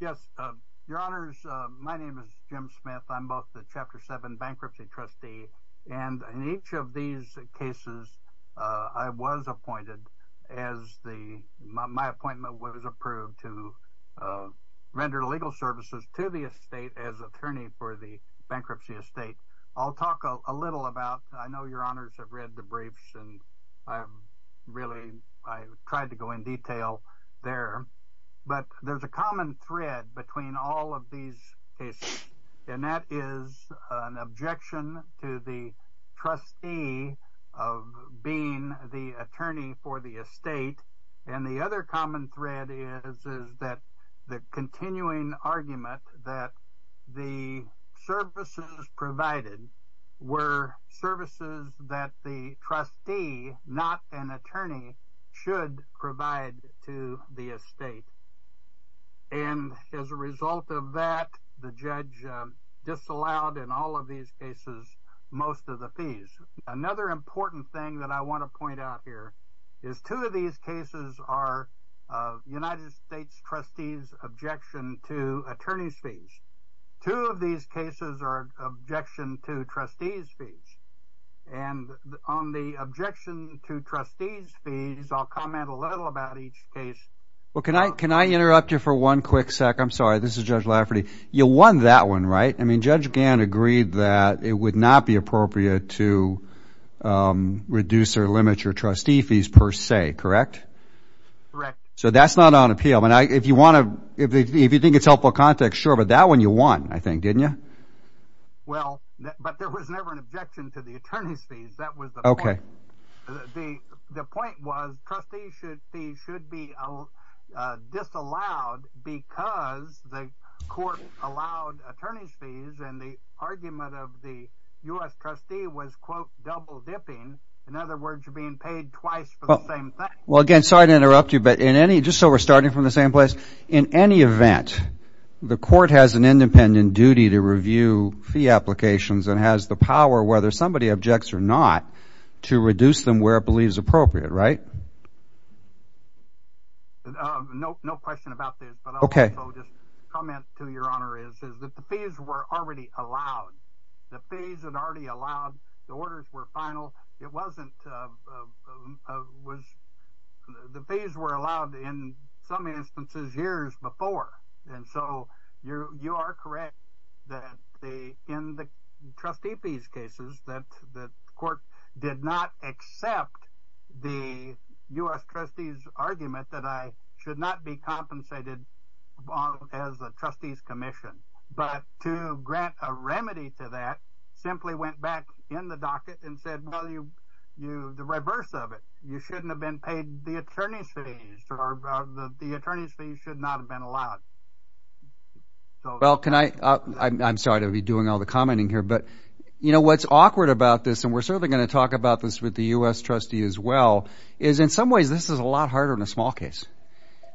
Yes, Your Honors, my name is Jim Smith. I'm both the Chapter 7 Bankruptcy Trustee, and in each of these cases I was appointed as the, my appointment was approved to render legal services to the estate as attorney for the bankruptcy estate. I'll talk a little about, I know Your Honors have read the briefs and I've really, I've tried to go in detail there, but there's a common thread between all of these cases, and that is an objection to the trustee of being the attorney for the estate, and the other common thread is that the continuing argument that the services provided were services that the trustee, not an attorney, should provide to the estate. And as a result of that, the judge disallowed in all of these cases most of the fees. Another important thing that I want to point out, two of these cases are objection to trustee's fees, and on the objection to trustee's fees, I'll comment a little about each case. Well, can I interrupt you for one quick second? I'm sorry, this is Judge Lafferty. You won that one, right? I mean, Judge Gann agreed that it would not be appropriate to reduce or limit your trustee fees per se, correct? Correct. So that's not on appeal. If you want to, if you think it's helpful context, sure, but that one you won, I think, didn't you? Well, but there was never an objection to the attorney's fees. That was the point. Okay. The point was, trustee's fees should be disallowed because the court allowed attorney's fees, and the argument of the U.S. trustee was, quote, double dipping. In other words, you're being paid twice for the same thing. Well, again, sorry to interrupt you, but in any, just so we're starting from the same place, in any event, the court has an independent duty to review fee applications and has the power, whether somebody objects or not, to reduce them where it believes appropriate, right? No, no question about this. Okay. Well, just a comment to your honor is, is that the fees were already allowed. The fees had already allowed, the orders were final. It wasn't, was, the fees were allowed in some instances years before. And so you're, you are correct that the, in the argument that I should not be compensated as a trustee's commission, but to grant a remedy to that, simply went back in the docket and said, well, you, you, the reverse of it. You shouldn't have been paid the attorney's fees, or the attorney's fees should not have been allowed. Well, can I, I'm sorry to be doing all the commenting here, but, you know, what's awkward about this, and we're certainly going to see this, is in some ways, this is a lot harder in a small case.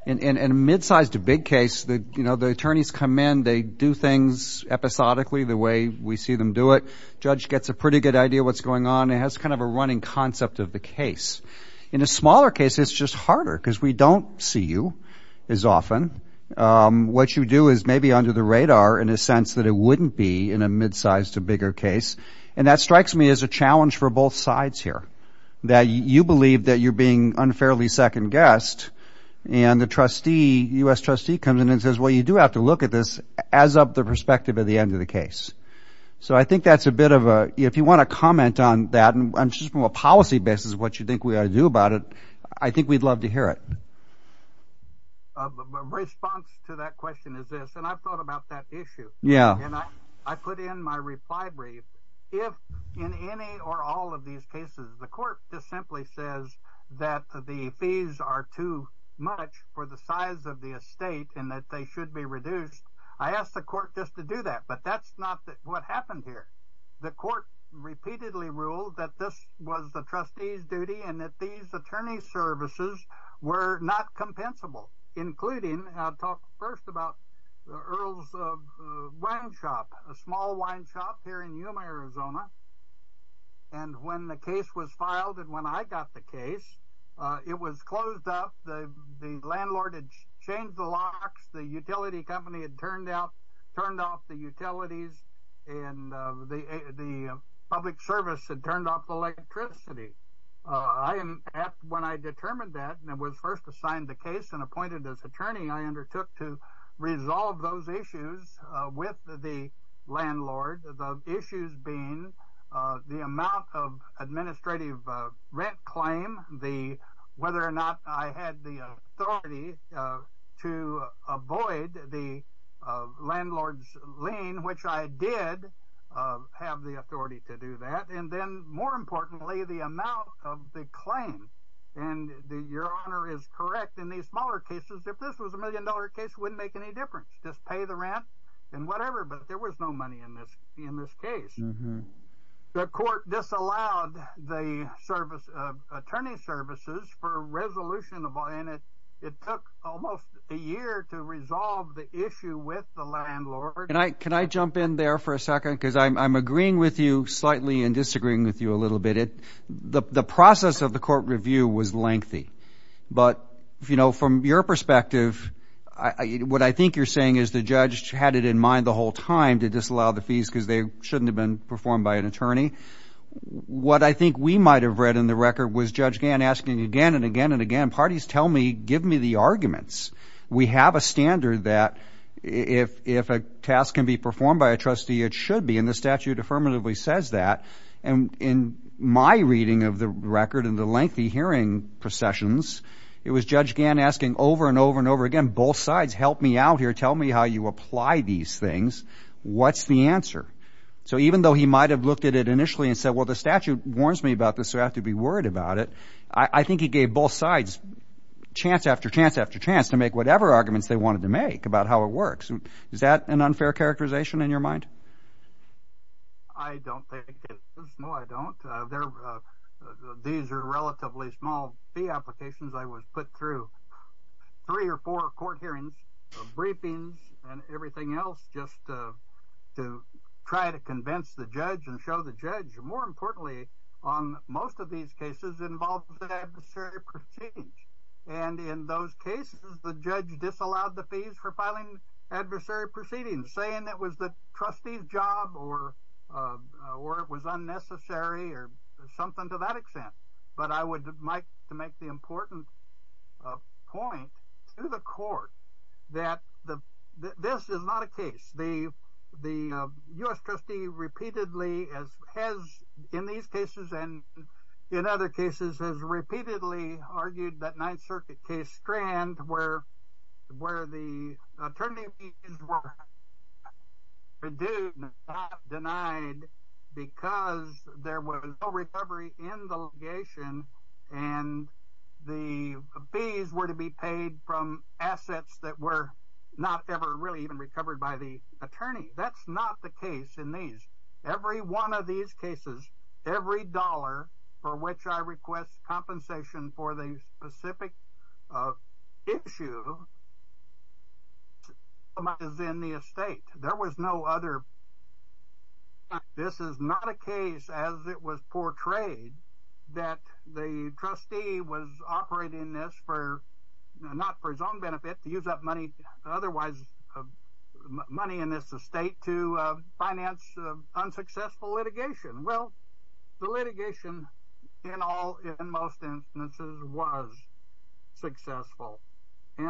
In, in, in a mid-sized to big case, the, you know, the attorneys come in, they do things episodically the way we see them do it. Judge gets a pretty good idea what's going on and has kind of a running concept of the case. In a smaller case, it's just harder because we don't see you as often. What you do is maybe under the radar in a sense that it And that strikes me as a challenge for both sides here. That you believe that you're being unfairly second-guessed, and the trustee, U.S. trustee comes in and says, well, you do have to look at this as of the perspective of the end of the case. So I think that's a bit of a, if you want to comment on that, and just from a policy basis, what you think we ought to do about it, I think we'd love to hear it. A response to that question is this, and I've thought about that issue. Yeah. And I put in my reply brief. If in any or all of these cases, the court just simply says that the fees are too much for the size of the estate and that they should be reduced, I asked the court just to do that. But that's not what happened here. The court repeatedly ruled that this was the trustee's duty and that these attorney services were not compensable, including, I'll talk first about Earl's Wine Shop, a small wine shop here in Yuma, Arizona. And when the case was filed and when I got the case, it was closed up. The landlord had changed the locks. The utility company had changed the locks. And when I determined that and was first assigned the case and appointed as attorney, I undertook to resolve those issues with the landlord, the issues being the amount of administrative rent claim, whether or not I had the authority to avoid the And your honor is correct. In these smaller cases, if this was a million dollar case, it wouldn't make any difference. Just pay the rent and whatever. But there was no money in this in this case. The court disallowed the service of attorney services for a resolution of it. It took almost a year to resolve the issue with the landlord. And I can I jump in there for a second because I'm agreeing with you But, you know, from your perspective, what I think you're saying is the judge had it in mind the whole time to disallow the fees because they shouldn't have been performed by an attorney. What I think we might have read in the record was Judge Gann asking again and again and again, parties tell me, give me the arguments. We have a standard that if if a task can be performed by a trustee, it should be in the statute says that. And in my reading of the record and the lengthy hearing processions, it was Judge Gann asking over and over and over again. Both sides help me out here. Tell me how you apply these things. What's the answer? So even though he might have looked at it initially and said, well, the statute warns me about this. I have to be worried about it. I think he gave both sides chance after chance after chance to make whatever arguments they wanted to make about how it works. And is that an unfair characterization in your mind? I don't think. No, I don't. These are relatively small fee applications. I was put through three or four court hearings, briefings and everything else just to try to convince the judge and show the judge more importantly, on most of these cases involved in adversary proceedings. And in those cases, the judge disallowed the fees for filing adversary proceedings saying that was the trustee's job or or it was unnecessary or something to that extent. But I would agree with Judge Gann on that. And, uh, you know, U.S. trustee repeatedly as has in these cases and in other cases has repeatedly argued that Ninth Circuit case strand where where the attorney were due denied because there was no recovery in the location and the fees were to be paid from assets that were not ever really even recovered by the attorney. That's not the case in these every one of these cases, every dollar for which I request compensation for the specific issue. And that's not the case in this case. The money was in the estate. There was no other. This is not a case as it was portrayed that the trustee was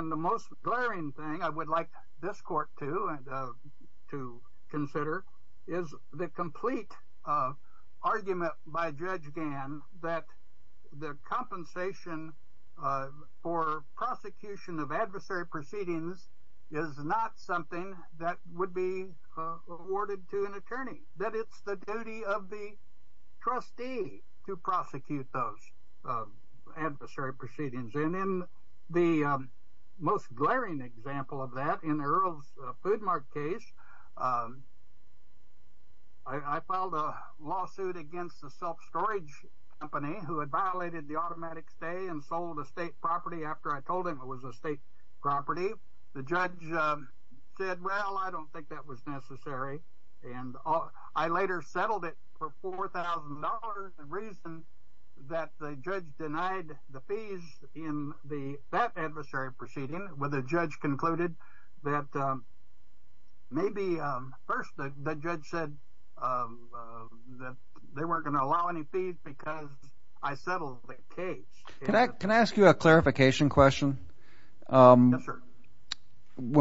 The most glaring thing I would like this court to and to consider is the complete argument by Judge Gann that the compensation for prosecution of adversary proceedings and in the most glaring example of that in Earl's Food Mart case, I filed a lawsuit against the self storage company who had violated the automatic property after I told him it was a state property. The judge said, Well, I don't think that was necessary. And I later settled it for $4,000 reason that the judge denied the fees in the that adversary proceeding with a judge concluded that maybe first the judge said that they weren't going to allow any fees because I settled the case. Can I ask you a clarification question? When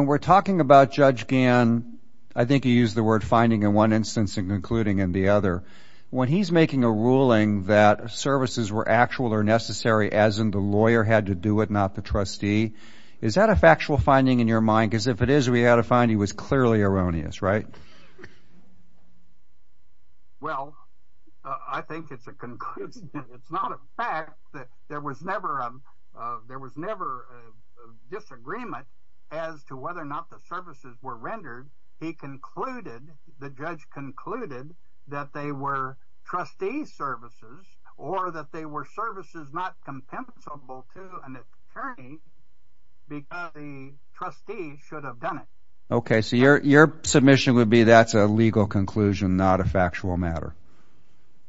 we're talking about Judge Gann, I think you use the word finding in one instance and concluding in the other. When he's making a ruling that services were actual or necessary, as in the lawyer had to do it, not the trustee. Is that a factual finding in your mind? Because if it is, we had to find he was clearly erroneous, right? Well, I think it's a conclusion. It's not a fact that there was never there was never a disagreement as to whether or not the services were rendered, he concluded, the judge concluded that they were trustee services, or that they were services not legal conclusion, not a factual matter.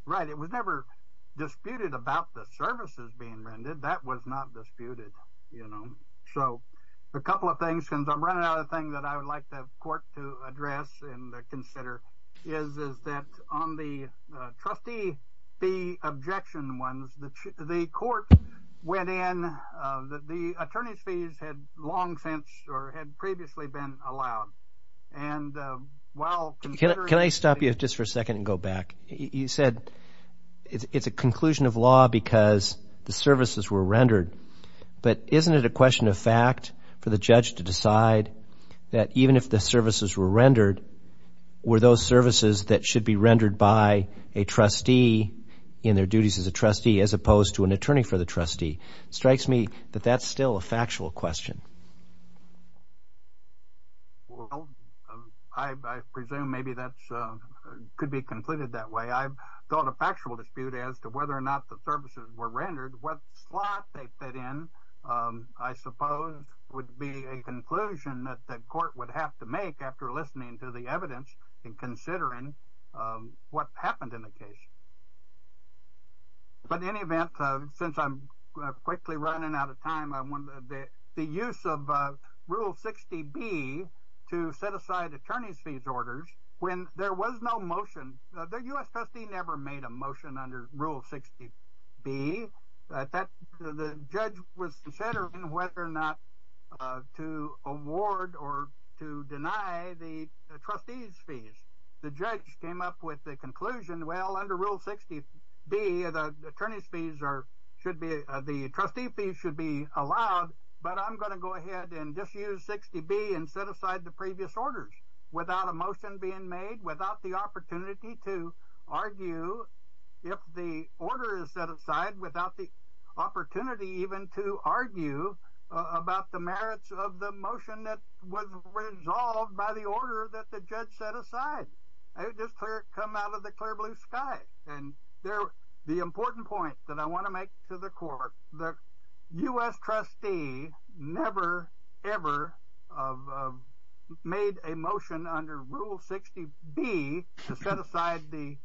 Right? It was never disputed about the services being rendered that was not disputed. You know, so a couple of things since I'm running out of things that I would like to have court to address and consider is that on the trustee, the objection ones, the court went in that the attorney's fees had long since or had previously been allowed. And while can I stop you just for a second and go back, he said, it's a conclusion of law because the services were rendered. But isn't it a question of fact for the judge to decide that even if the services were rendered, were those services that should be rendered by a trustee in their duties as a trustee? As opposed to an attorney for the trustee strikes me that that's still a factual question. Well, I presume maybe that could be completed that way. I've thought a factual dispute as to whether or not the services were rendered what slot they fit in, I suppose, would be a conclusion that that court would have to make after listening to the evidence and considering what happened in the case. But in any event, since I'm quickly running out of time, I wonder that the use of Rule 60 be to set aside attorney's fees orders when there was no motion, the US trustee never made a motion under Rule 60 be that the judge was considering whether or not to award or to deny the trustees fees. The judge came up with the conclusion. Well, under Rule 60 be the attorney's fees or should be the trustee fees should be allowed. But I'm going to go ahead and just use 60 be and set aside the previous orders without a motion being made without the opportunity to argue if the order is set aside without the opportunity even to argue about the merits of the motion that was resolved by the order that the judge set aside. I just come out of the clear blue sky. And they're the important point that I want to make to the court that US trustee never ever have made a motion under Rule 60 be set aside the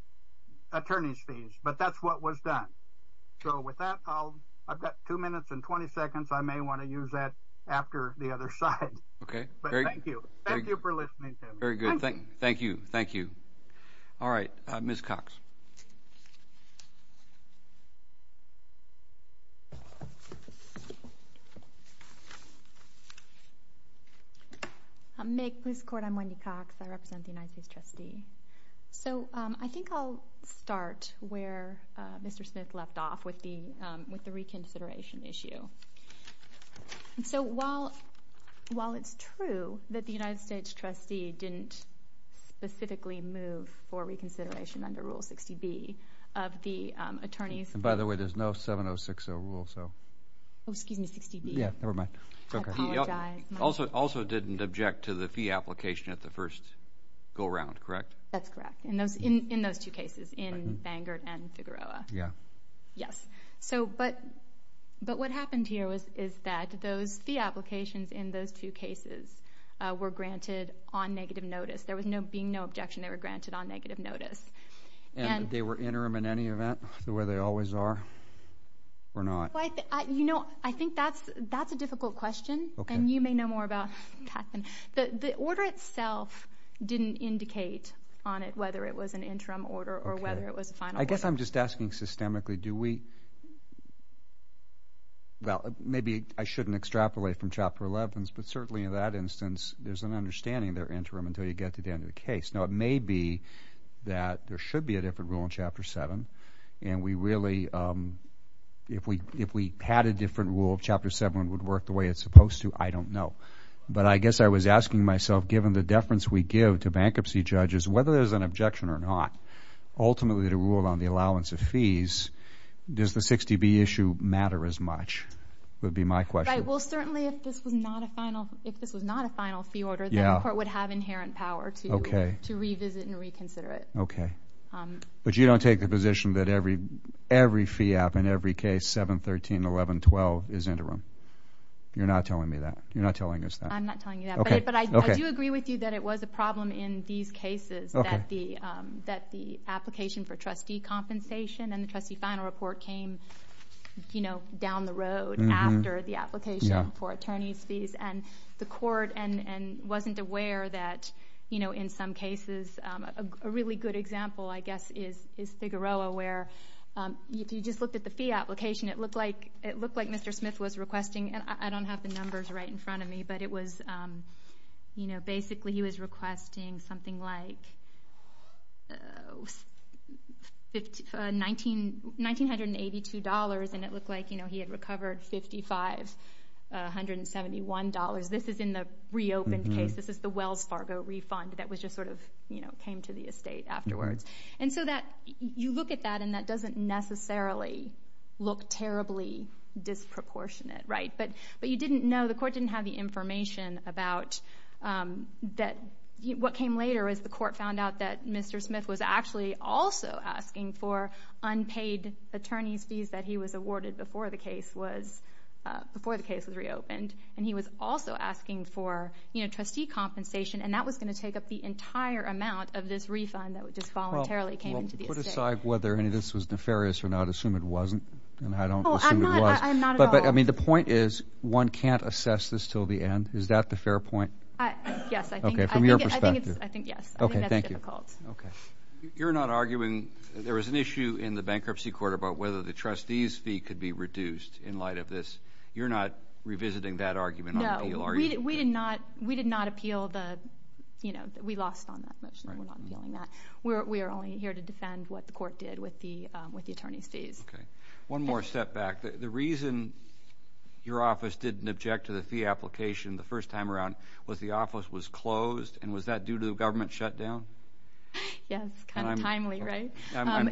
attorney's fees, but that's what was done. So with that, I'll I've got two minutes and 20 seconds, I may want to use that after the other side. Okay, thank you. Thank you for listening. Very good. Thank you. Thank you. All right, Miss Cox. Make this court. I'm Wendy Cox. I represent the United States trustee. So I think I'll start where Mr. Smith left off with the with the reconsideration issue. So while while it's true that the United States trustee didn't specifically move for reconsideration under Rule 60 be of the attorneys, by the way, there's no 706 rule. So excuse me, 60. Yeah, nevermind. Okay. Also, also didn't object to the fee application at the first go around. Correct. That's correct. And those in those two cases in Bangor and Figueroa. Yeah. Yes. So but but what happened here was is that those the applications in those two cases were granted on negative notice. There was no being no objection. They were granted on negative notice and they were interim in any event where they always are or not. You know, I think that's that's a difficult question. And you may know more about the order itself didn't indicate on it whether it was an interim order or whether it was a final. I guess I'm just asking systemically. Do we well, maybe I shouldn't extrapolate from chapter 11. But certainly in that instance, there's an understanding there interim until you get to the end of the case. Now, it may be that there should be a different rule in chapter seven. And we really if we if we had a different rule of chapter seven would work the way it's supposed to. I don't know. But I guess I was asking myself, given the deference we give to bankruptcy judges, whether there's an objection or not, ultimately to rule on the allowance of fees, does the 60 be issue matter as much would be my question. Well, certainly if this was not a final, if this was not a final fee order, the court would have inherent power to to revisit and reconsider it. OK, but you don't take the position that every every fee app in every case, 7, 13, 11, 12 is interim. You're not telling me that you're not telling us that I'm not telling you that. But I do agree with you that it was a problem in these cases that the that the application for trustee compensation and the trustee final report came, you know, down the road after the application. Yeah, for attorneys fees and the court and wasn't aware that, you know, in some cases a really good example, I guess, is is Figueroa, where if you just looked at the fee application, it looked like it looked like Mr. Smith was requesting. And I don't have the numbers right in front of me, but it was, you know, basically he was requesting something like $1,982 and it looked like, you know, he had recovered $5,571. This is in the reopened case. This is the Wells Fargo refund that was just sort of, you know, came to the estate afterwards. And so that you look at that and that doesn't necessarily look terribly disproportionate. Right. But but you didn't know the court didn't have the information about that. But what came later is the court found out that Mr. Smith was actually also asking for unpaid attorney's fees that he was awarded before the case was before the case was reopened. And he was also asking for, you know, trustee compensation. And that was going to take up the entire amount of this refund that just voluntarily came to decide whether this was nefarious or not. Assume it wasn't. And I don't know. But I mean, the point is, one can't assess this till the end. Is that the fair point? I guess I think from your perspective, I think, yes. Okay. Thank you. Okay. You're not arguing there was an issue in the bankruptcy court about whether the trustees fee could be reduced in light of this. You're not revisiting that argument. Are we? We did not. We did not appeal the you know, we lost on that. We're only here to defend what the court did with the with the attorney's fees. Okay. One more step back. The reason your office didn't object to the fee application the first time around was the office was closed. And was that due to the government shutdown? Yes. Kind of timely, right?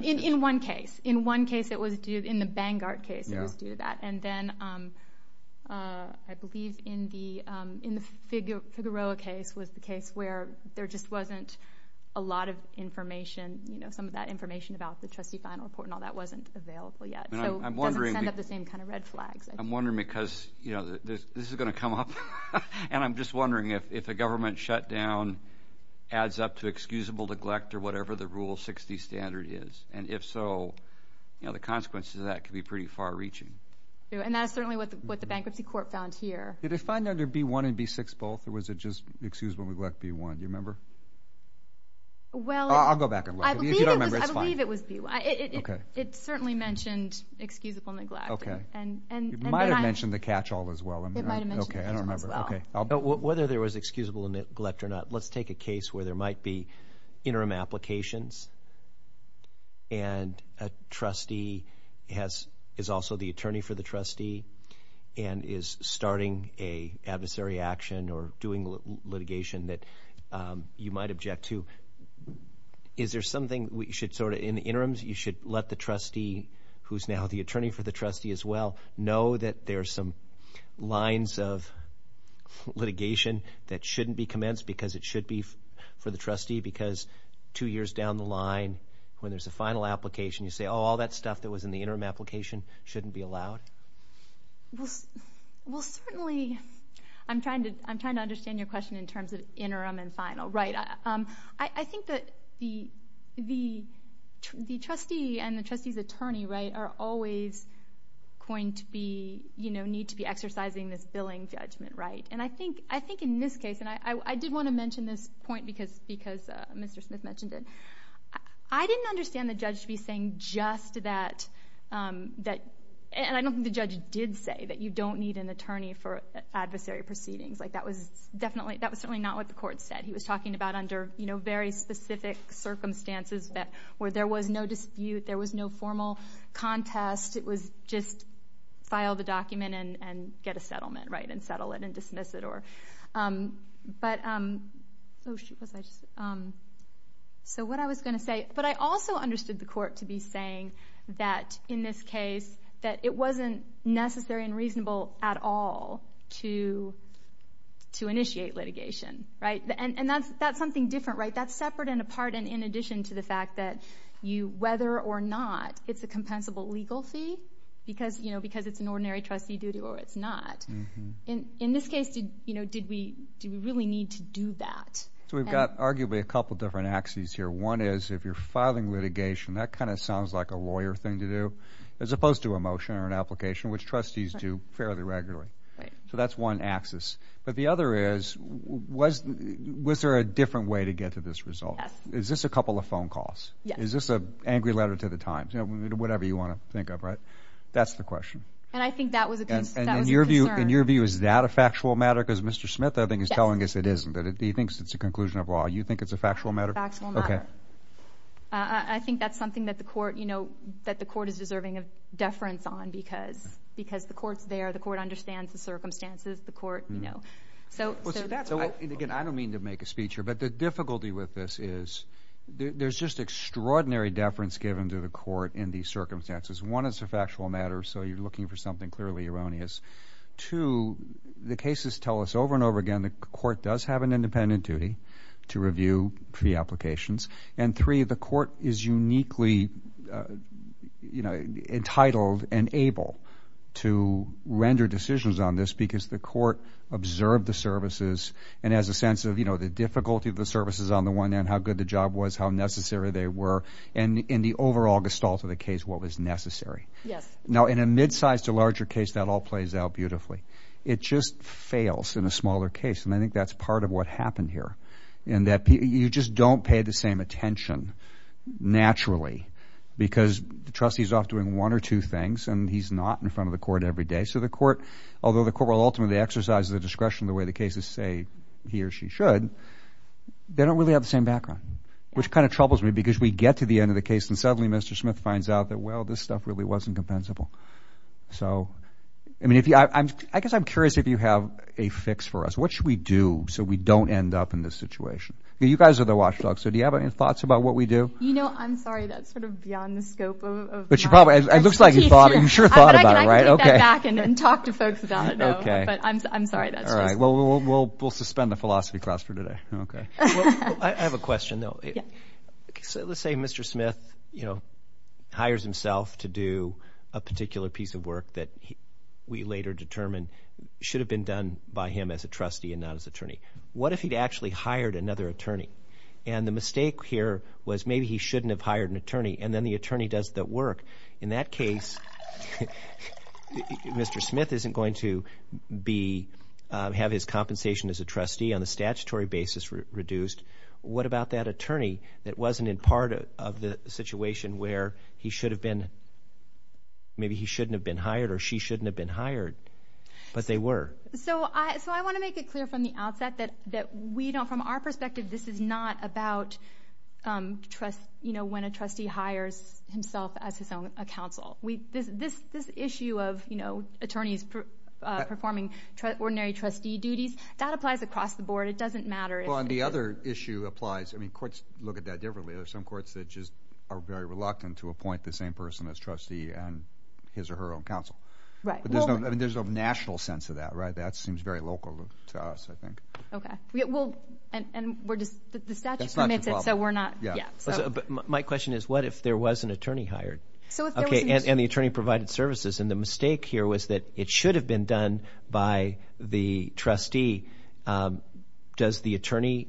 In one case, in one case, it was due in the Vanguard case. It was due to that. And then I believe in the in the figure for the row case was the case where there just wasn't a lot of information, you know, some of that information about the trustee final report and all that wasn't available yet. I'm wondering at the same kind of red flags. I'm wondering because, you know, this is going to come up. And I'm just wondering if, if the government shutdown adds up to excusable neglect or whatever the rule 60 standard is. And if so, you know, the consequences of that could be pretty far-reaching. And that's certainly what the what the bankruptcy court found here. Did it find under B-1 and B-6 both or was it just excusable neglect B-1? Do you remember? Well, I'll go back and look. I believe it was B-1. It certainly mentioned excusable neglect. Okay. It might have mentioned the catch-all as well. It might have mentioned the catch-all as well. Okay. I don't remember. Okay. Whether there was excusable neglect or not. Let's take a case where there might be interim applications and a trustee has, is also the attorney for the trustee and is starting a adversary action or doing litigation that you might object to. Is there something we should sort of, in the interims, you should let the trustee, who's now the attorney for the trustee as well, know that there are some lines of litigation that shouldn't be commenced because it should be for the trustee? Because two years down the line, when there's a final application, you say, oh, all that stuff that was in the interim application shouldn't be allowed? Well, certainly, I'm trying to, I'm trying to understand your question in terms of interim and final. Right. I think that the, the, the trustee and the trustee's attorney, right, are always going to be, you know, need to be exercising this billing judgment, right? And I think, I think in this case, and I, I, I did want to mention this point because, because Mr. Smith mentioned it. I didn't understand the judge to be saying just that, that, and I don't think the judge did say that you don't need an attorney for adversary proceedings. Like, that was definitely, that was certainly not what the court said. He was talking about under, you know, very specific circumstances that, where there was no dispute, there was no formal contest. It was just file the document and, and get a settlement, right? And settle it and dismiss it or, but, so what I was going to say, but I also understood the court to be saying that in this case, that it wasn't necessary and reasonable at all to, to initiate litigation, right? And, and that's, that's something different, right? That's separate and apart and in addition to the fact that you, whether or not it's a compensable legal fee, because, you know, because it's an ordinary trustee duty or it's not. In, in this case, you know, did we, do we really need to do that? So we've got arguably a couple different axes here. One is, if you're filing litigation, that kind of sounds like a lawyer thing to do, as opposed to a motion or an application, which trustees do fairly regularly, right? So that's one axis. But the other is, was, was there a different way to get to this result? Yes. Is this a couple of phone calls? Yes. Is this a angry letter to the Times? You know, whatever you want to think of, right? That's the question. And I think that was a, that was a concern. In your view, is that a factual matter? Because Mr. Smith, I think, is telling us it isn't, that he thinks it's a conclusion of law. You think it's a factual matter? Factual matter. Okay. I, I think that's something that the court, you know, that the court is deserving of deference on because, because the court's there, the court understands the circumstances, the court, you know, so, so. Again, I don't mean to make a speech here, but the difficulty with this is, there's just extraordinary deference given to the court in these circumstances. One, it's a factual matter, so you're looking for something clearly erroneous. Two, the cases tell us over and over again, the court does have an independent duty to review fee applications. And three, the court is uniquely, you know, entitled and able to render decisions on this because the court observed the services and has a sense of, you know, the difficulty of the services on the one end, how good the job was, how necessary they were, and in the overall gestalt of the case, what was necessary. Yes. Now, in a midsize to larger case, that all plays out beautifully. It just fails in a smaller case, and I think that's part of what happened here in that you just don't pay the same attention naturally because the trustee's off doing one or two things, and he's not in front of the court every day. So the court, although the court will ultimately exercise the discretion the way the cases say he or she should, they don't really have the same background, which kind of troubles me because we get to the end of the case and suddenly Mr. Smith finds out that, well, this stuff really wasn't compensable. So, I mean, I guess I'm curious if you have a fix for us. What should we do so we don't end up in this situation? You guys are the watchdogs, so do you have any thoughts about what we do? You know, I'm sorry, that's sort of beyond the scope of that. But you probably, it looks like you thought, you sure thought about it, right? Okay. I can take that back and talk to folks about it. Okay. But I'm sorry, that's just. All right. Well, we'll suspend the philosophy class for today. Okay. Well, I have a question though. Yeah. So let's say Mr. Smith, you know, hires himself to do a particular piece of work that we later determine should have been done by him as a trustee and not as attorney. What if he'd actually hired another attorney? And the mistake here was maybe he shouldn't have hired an attorney and then the attorney does the work. In that case, Mr. Smith isn't going to be, have his compensation as a trustee on a statutory basis reduced. What about that attorney that wasn't in part of the situation where he should have been, maybe he shouldn't have been hired or she shouldn't have been hired, but they were? So I want to make it clear from the outset that we don't, from our perspective, this is not about trust, you know, when a trustee hires himself as his own counsel. This issue of, you know, attorneys performing ordinary trustee duties, that applies across the board. It doesn't matter. Well, and the other issue applies. I mean, courts look at that differently. There are some courts that just are very reluctant to appoint the same person as trustee on his or her own counsel. Right. But there's no, I mean, there's no national sense of that, right? That seems very local to us, I think. Okay. Well, and we're just, the statute permits it, so we're not, yeah. My question is what if there was an attorney hired and the attorney provided services and the mistake here was that it should have been done by the trustee. Does the attorney,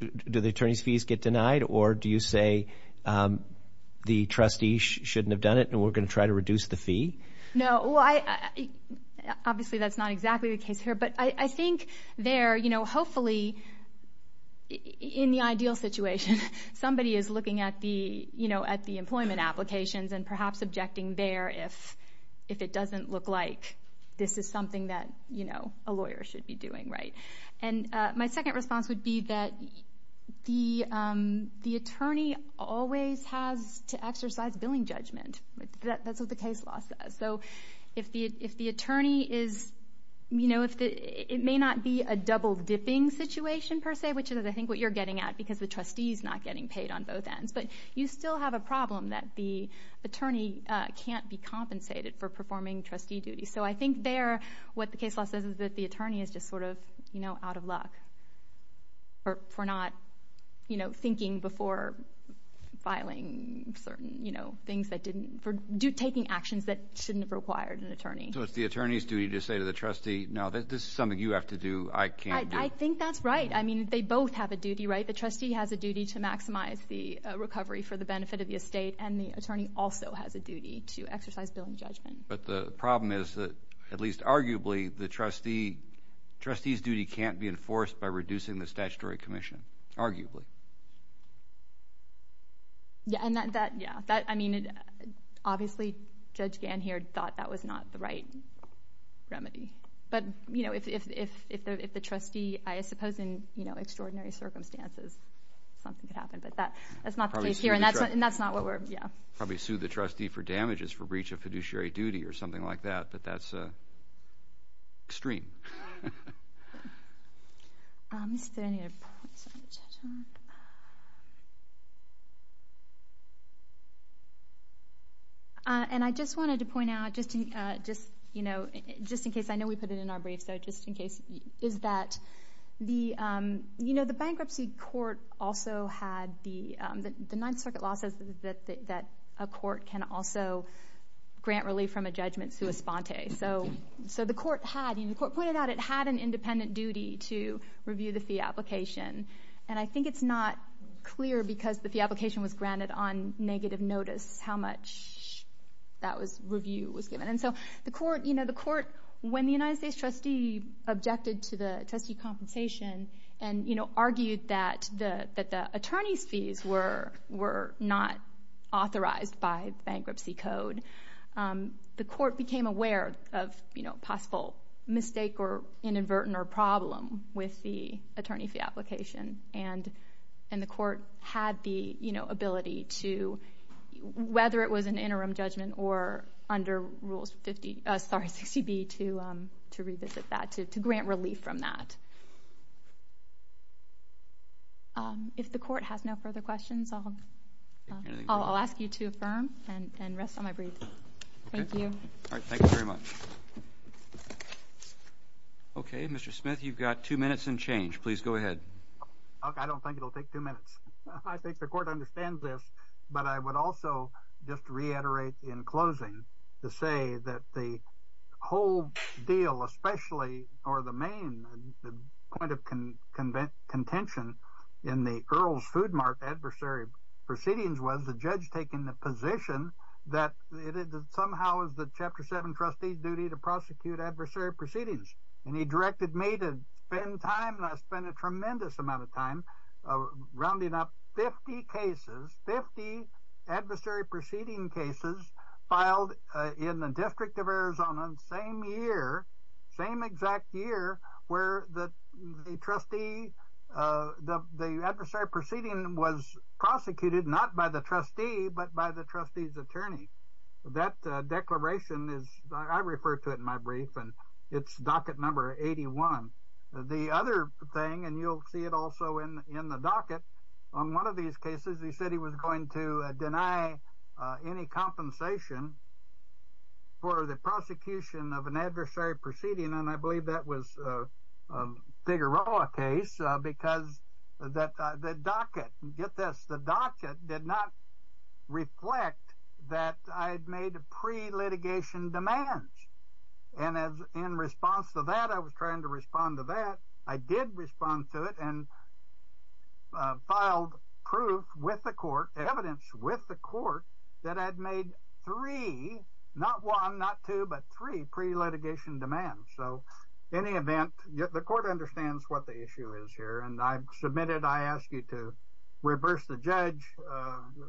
do the attorney's fees get denied or do you say the trustee shouldn't have done it and we're going to try to reduce the fee? No. Well, I, obviously that's not exactly the case here, but I think there, you know, hopefully in the ideal situation, somebody is looking at the, you know, at the employment applications and perhaps objecting there if it doesn't look like this is something that, you know, a lawyer should be doing, right? And my second response would be that the attorney always has to exercise billing judgment. That's what the case law says. So if the attorney is, you know, it may not be a double dipping situation per se, which is I think what you're getting at because the trustee's not getting paid on both ends, but you still have a problem that the attorney can't be compensated for performing trustee duties. So I think there, what the case law says is that the attorney is just sort of, you know, out of luck for not, you know, thinking before filing certain, you know, things that didn't, for taking actions that shouldn't have required an attorney. So it's the attorney's duty to say to the trustee, no, this is something you have to do, I can't do. I think that's right. I mean, they both have a duty, right? The trustee has a duty to maximize the recovery for the benefit of the estate and the attorney also has a duty to exercise billing judgment. But the problem is that, at least arguably, the trustee, trustee's duty can't be enforced by reducing the statutory commission, arguably. Yeah, and that, yeah, that, I mean, obviously, Judge Ganheard thought that was not the right remedy. But, you know, if the trustee, I suppose in, you know, extraordinary circumstances, something could happen, but that's not the case here and that's not what we're, yeah. Probably sue the trustee for damages for breach of fiduciary duty or something like that, but that's extreme. And I just wanted to point out, just, you know, just in case, I know we put it in our brief, so just in case, is that the, you know, the bankruptcy court also had the Ninth Circuit law says that a court can also grant relief from a judgment sua sponte. So the court had, you know, the court pointed out it had an independent duty to review the fee application and I think it's not clear because the fee application was granted on negative notice how much that was, review was given. And so the court, you know, the court, when the United States trustee objected to the attorney's fees were not authorized by bankruptcy code, the court became aware of, you know, possible mistake or inadvertent or problem with the attorney fee application and the court had the, you know, ability to, whether it was an interim judgment or under Rules 50, sorry, 60B to revisit that, to grant relief from that. If the court has no further questions, I'll ask you to affirm and rest on my brief. Thank you. All right. Thank you very much. Okay. Mr. Smith, you've got two minutes and change. Please go ahead. I don't think it'll take two minutes. I think the court understands this, but I would also just reiterate in closing to say that the whole deal, especially or the main point of contention in the Earl's Food Mart adversary proceedings was the judge taking the position that somehow is the Chapter 7 trustee's duty to prosecute adversary proceedings. And he directed me to spend time and I spent a tremendous amount of time rounding up 50 adversary proceeding cases filed in the District of Arizona same year, same exact year where the trustee, the adversary proceeding was prosecuted not by the trustee, but by the trustee's attorney. That declaration is, I refer to it in my brief and it's docket number 81. The other thing, and you'll see it also in the docket, on one of these cases, he said that he was going to deny any compensation for the prosecution of an adversary proceeding. And I believe that was a Figueroa case because the docket, get this, the docket did not reflect that I had made pre-litigation demands. And in response to that, I was trying to respond to that. I did respond to it and filed proof with the court, evidence with the court that I'd made three, not one, not two, but three pre-litigation demands. So any event, the court understands what the issue is here and I submitted, I asked you to reverse the judge,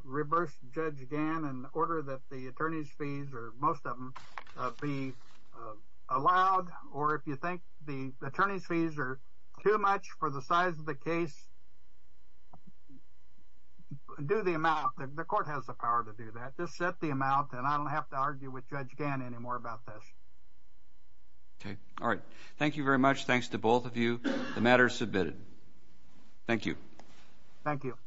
reverse the judge again in order that the attorney's fees or most of them be allowed. Or if you think the attorney's fees are too much for the size of the case, do the amount. The court has the power to do that. Just set the amount and I don't have to argue with Judge Gannon anymore about this. Okay. All right. Thank you very much. Thanks to both of you. The matter is submitted. Thank you. Thank you.